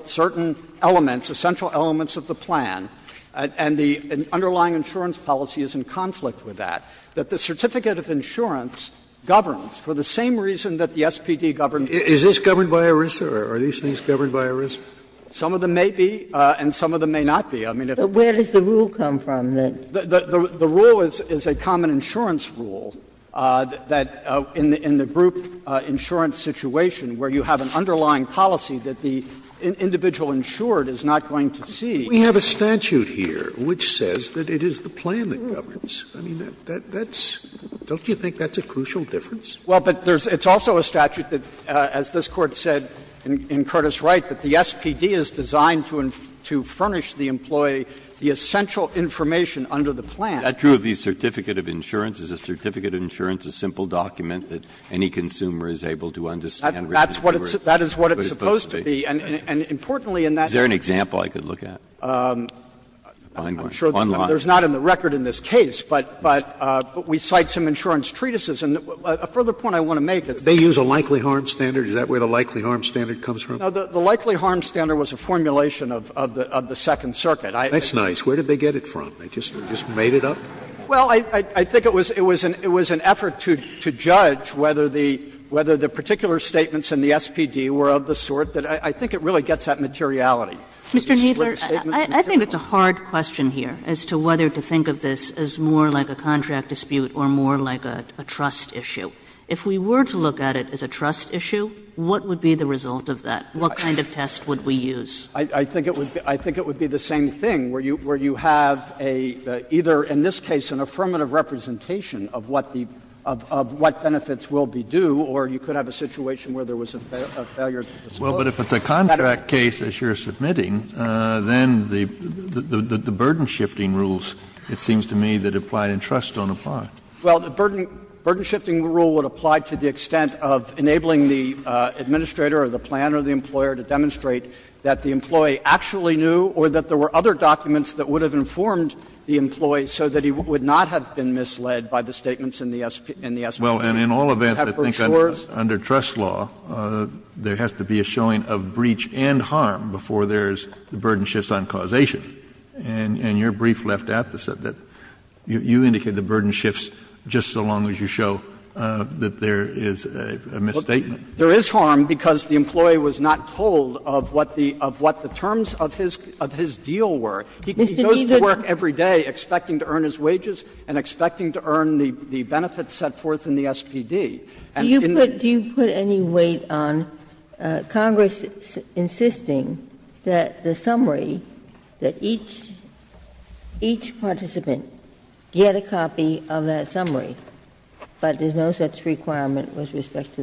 certain elements, essential elements of the plan, and the underlying insurance policy is in conflict with that, that the certificate of insurance governs for the same reason that the SPD governs. Scalia. Is this governed by ERISA, or are these things governed by ERISA? Some of them may be, and some of them may not be. I mean, if it's not. But where does the rule come from? The rule is a common insurance rule that in the group insurance situation where you have an underlying policy that the individual insured is not going to see. Scalia. We have a statute here which says that it is the plan that governs. I mean, that's – don't you think that's a crucial difference? Well, but there's – it's also a statute that, as this Court said in Curtis Wright, that the SPD is designed to furnish the employee the essential information under the plan. Is that true of the certificate of insurance? Is a certificate of insurance a simple document that any consumer is able to understand what it's supposed to be? That is what it's supposed to be. And importantly in that case. Is there an example I could look at? I'm sure there's not in the record in this case, but we cite some insurance treatises. And a further point I want to make is that they use a likely harm standard. Is that where the likely harm standard comes from? No, the likely harm standard was a formulation of the Second Circuit. That's nice. Where did they get it from? They just made it up? Well, I think it was an effort to judge whether the particular statements in the SPD were of the sort that – I think it really gets at materiality. Mr. Kneedler, I think it's a hard question here as to whether to think of this as more like a contract dispute or more like a trust issue. If we were to look at it as a trust issue, what would be the result of that? What kind of test would we use? I think it would be the same thing, where you have either, in this case, an affirmative representation of what the – of what benefits will be due, or you could have a situation where there was a failure to disclose. Well, but if it's a contract case, as you're submitting, then the burden-shifting rules, it seems to me, that apply in trust don't apply. Well, the burden-shifting rule would apply to the extent of enabling the administrator or the planner or the employer to demonstrate that the employee actually knew or that there were other documents that would have informed the employee so that he would not have been misled by the statements in the SPD. Kennedy, you have brochures. Kennedy, well, and in all events, I think under trust law, there has to be a showing of breach and harm before there's the burden shifts on causation. And your brief left out that you indicated the burden shifts just so long as you show that there is a misstatement. There is harm because the employee was not told of what the terms of his deal were. He goes to work every day expecting to earn his wages and expecting to earn the benefits that are set forth in the SPD. And in the case of trust law, there is no such requirement with respect to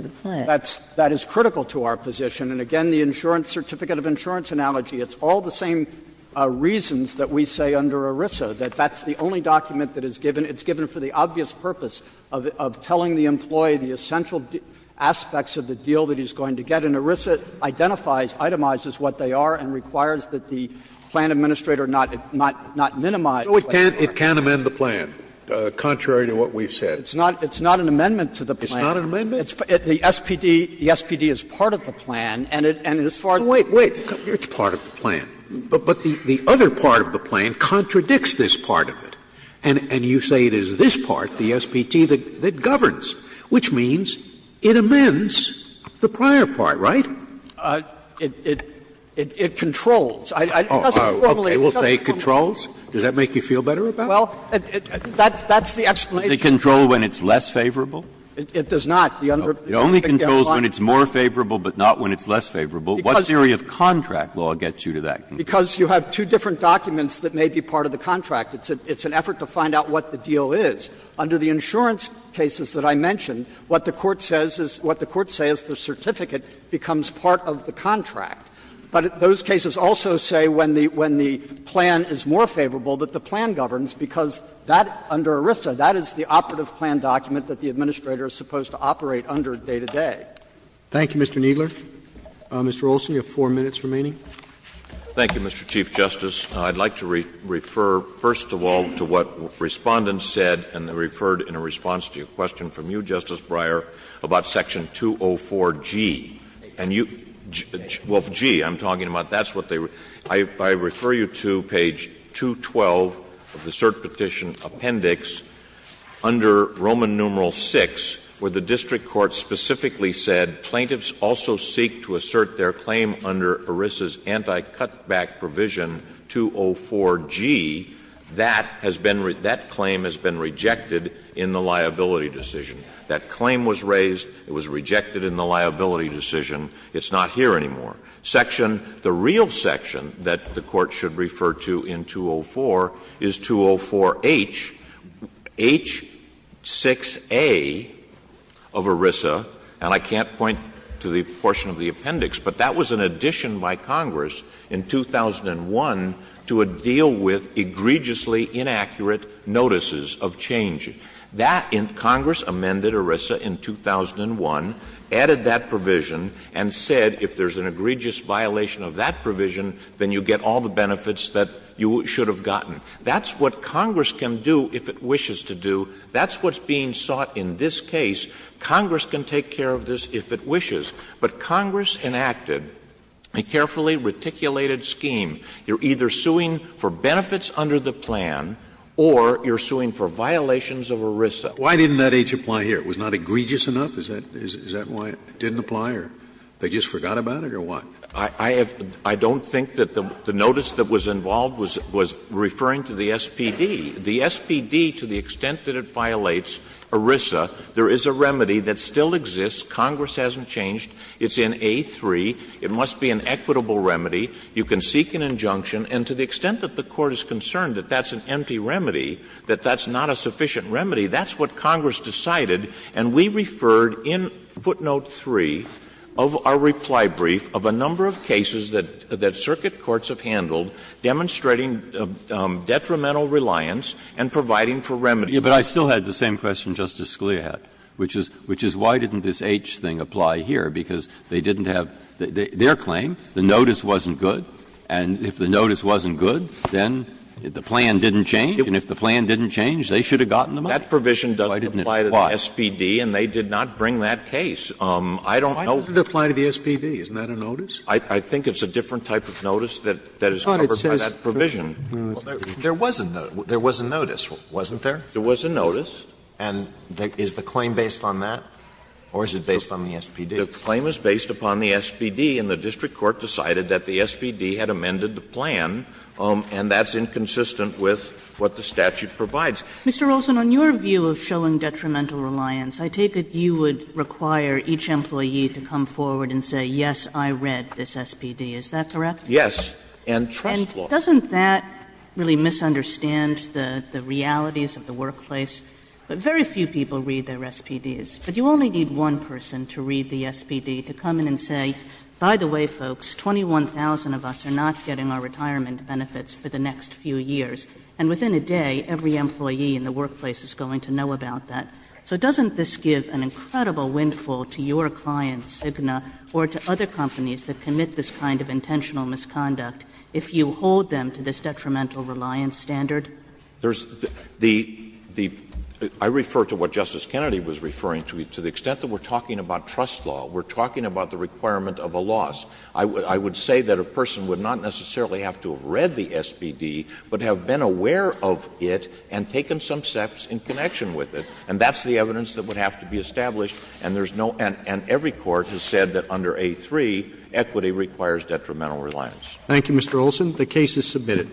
the plan. And that is critical to our position. And again, the insurance certificate of insurance analogy, it's all the same reasons that we say under ERISA, that that's the only document that is given, it's given of telling the employee the essential aspects of the deal that he's going to get. And ERISA identifies, itemizes what they are and requires that the plan administrator not, not, not minimize what they are. Scalia, it can't amend the plan, contrary to what we've said. It's not, it's not an amendment to the plan. It's not an amendment? It's, the SPD, the SPD is part of the plan and it, and as far as. Wait, wait, it's part of the plan, but, but the, the other part of the plan contradicts this part of it. And, and you say it is this part, the SPT, that, that governs, which means it amends the prior part, right? It, it, it controls. It doesn't formally, it doesn't formally. Okay, we'll say it controls. Does that make you feel better about it? Well, that's, that's the explanation. Does it control when it's less favorable? It, it does not. The under, the under, the underlying. It only controls when it's more favorable, but not when it's less favorable. Because. What theory of contract law gets you to that conclusion? Because you have two different documents that may be part of the contract. It's a, it's an effort to find out what the deal is. Under the insurance cases that I mentioned, what the Court says is, what the Courts say is the certificate becomes part of the contract. But those cases also say when the, when the plan is more favorable, that the plan governs, because that, under ERISA, that is the operative plan document that the Administrator is supposed to operate under day to day. Thank you, Mr. Kneedler. Mr. Olson, you have four minutes remaining. Thank you, Mr. Chief Justice. I'd like to refer, first of all, to what Respondents said and referred in a response to your question from you, Justice Breyer, about section 204G. And you, well, G, I'm talking about, that's what they, I, I refer you to page 212 of the cert petition appendix under Roman numeral VI, where the district court specifically said, Plaintiffs also seek to assert their claim under ERISA's anti-cutback provision 204G, that has been, that claim has been rejected in the liability decision. That claim was raised, it was rejected in the liability decision, it's not here anymore. Section, the real section that the Court should refer to in 204 is 204H, H6A of ERISA, and I can't point to the portion of the appendix, but that was an addition by Congress in 2001 to a deal with egregiously inaccurate notices of change. That, Congress amended ERISA in 2001, added that provision, and said if there's an egregious violation of that provision, then you get all the benefits that you should have gotten. That's what Congress can do if it wishes to do. That's what's being sought in this case. Congress can take care of this if it wishes. But Congress enacted a carefully reticulated scheme. You're either suing for benefits under the plan or you're suing for violations of ERISA. Scalia Why didn't that H apply here? It was not egregious enough? Is that why it didn't apply or they just forgot about it or what? Olson I have, I don't think that the notice that was involved was referring to the SPD. The SPD, to the extent that it violates ERISA, there is a remedy that still exists. Congress hasn't changed. It's in A3. It must be an equitable remedy. You can seek an injunction. And to the extent that the Court is concerned that that's an empty remedy, that that's not a sufficient remedy, that's what Congress decided. And we referred in footnote 3 of our reply brief of a number of cases that circuit courts have handled demonstrating detrimental reliance and providing for remedy. Breyer But I still had the same question Justice Scalia had, which is why didn't this H thing apply here, because they didn't have their claim, the notice wasn't good, and if the notice wasn't good, then the plan didn't change. And if the plan didn't change, they should have gotten the money. Olson That provision doesn't apply to the SPD and they did not bring that case. I don't know. Scalia Why didn't it apply to the SPD? Isn't that a notice? Olson I think it's a different type of notice that is covered by that provision. Scalia There was a notice, wasn't there? Olson There was a notice. Alito And is the claim based on that or is it based on the SPD? Olson The claim is based upon the SPD, and the district court decided that the SPD had amended the plan, and that's inconsistent with what the statute provides. Kagan Mr. Olson, on your view of showing detrimental reliance, I take it you would require each employee to come forward and say, yes, I read this SPD, is that correct? Olson Yes, and trust law. Kagan Doesn't that really misunderstand the realities of the workplace? Very few people read their SPDs, but you only need one person to read the SPD to come in and say, by the way, folks, 21,000 of us are not getting our retirement benefits for the next few years, and within a day, every employee in the workplace is going to know about that. So doesn't this give an incredible windfall to your clients, Cigna, or to other companies that commit this kind of intentional misconduct? If you hold them to this detrimental reliance standard? Olson There's the — I refer to what Justice Kennedy was referring to, to the extent that we are talking about trust law, we are talking about the requirement of a loss. I would say that a person would not necessarily have to have read the SPD, but have been aware of it and taken some steps in connection with it, and that's the evidence that would have to be established, and there's no — and every court has said that under A3, equity requires detrimental reliance. Thank you, Mr. Olson. The case is submitted.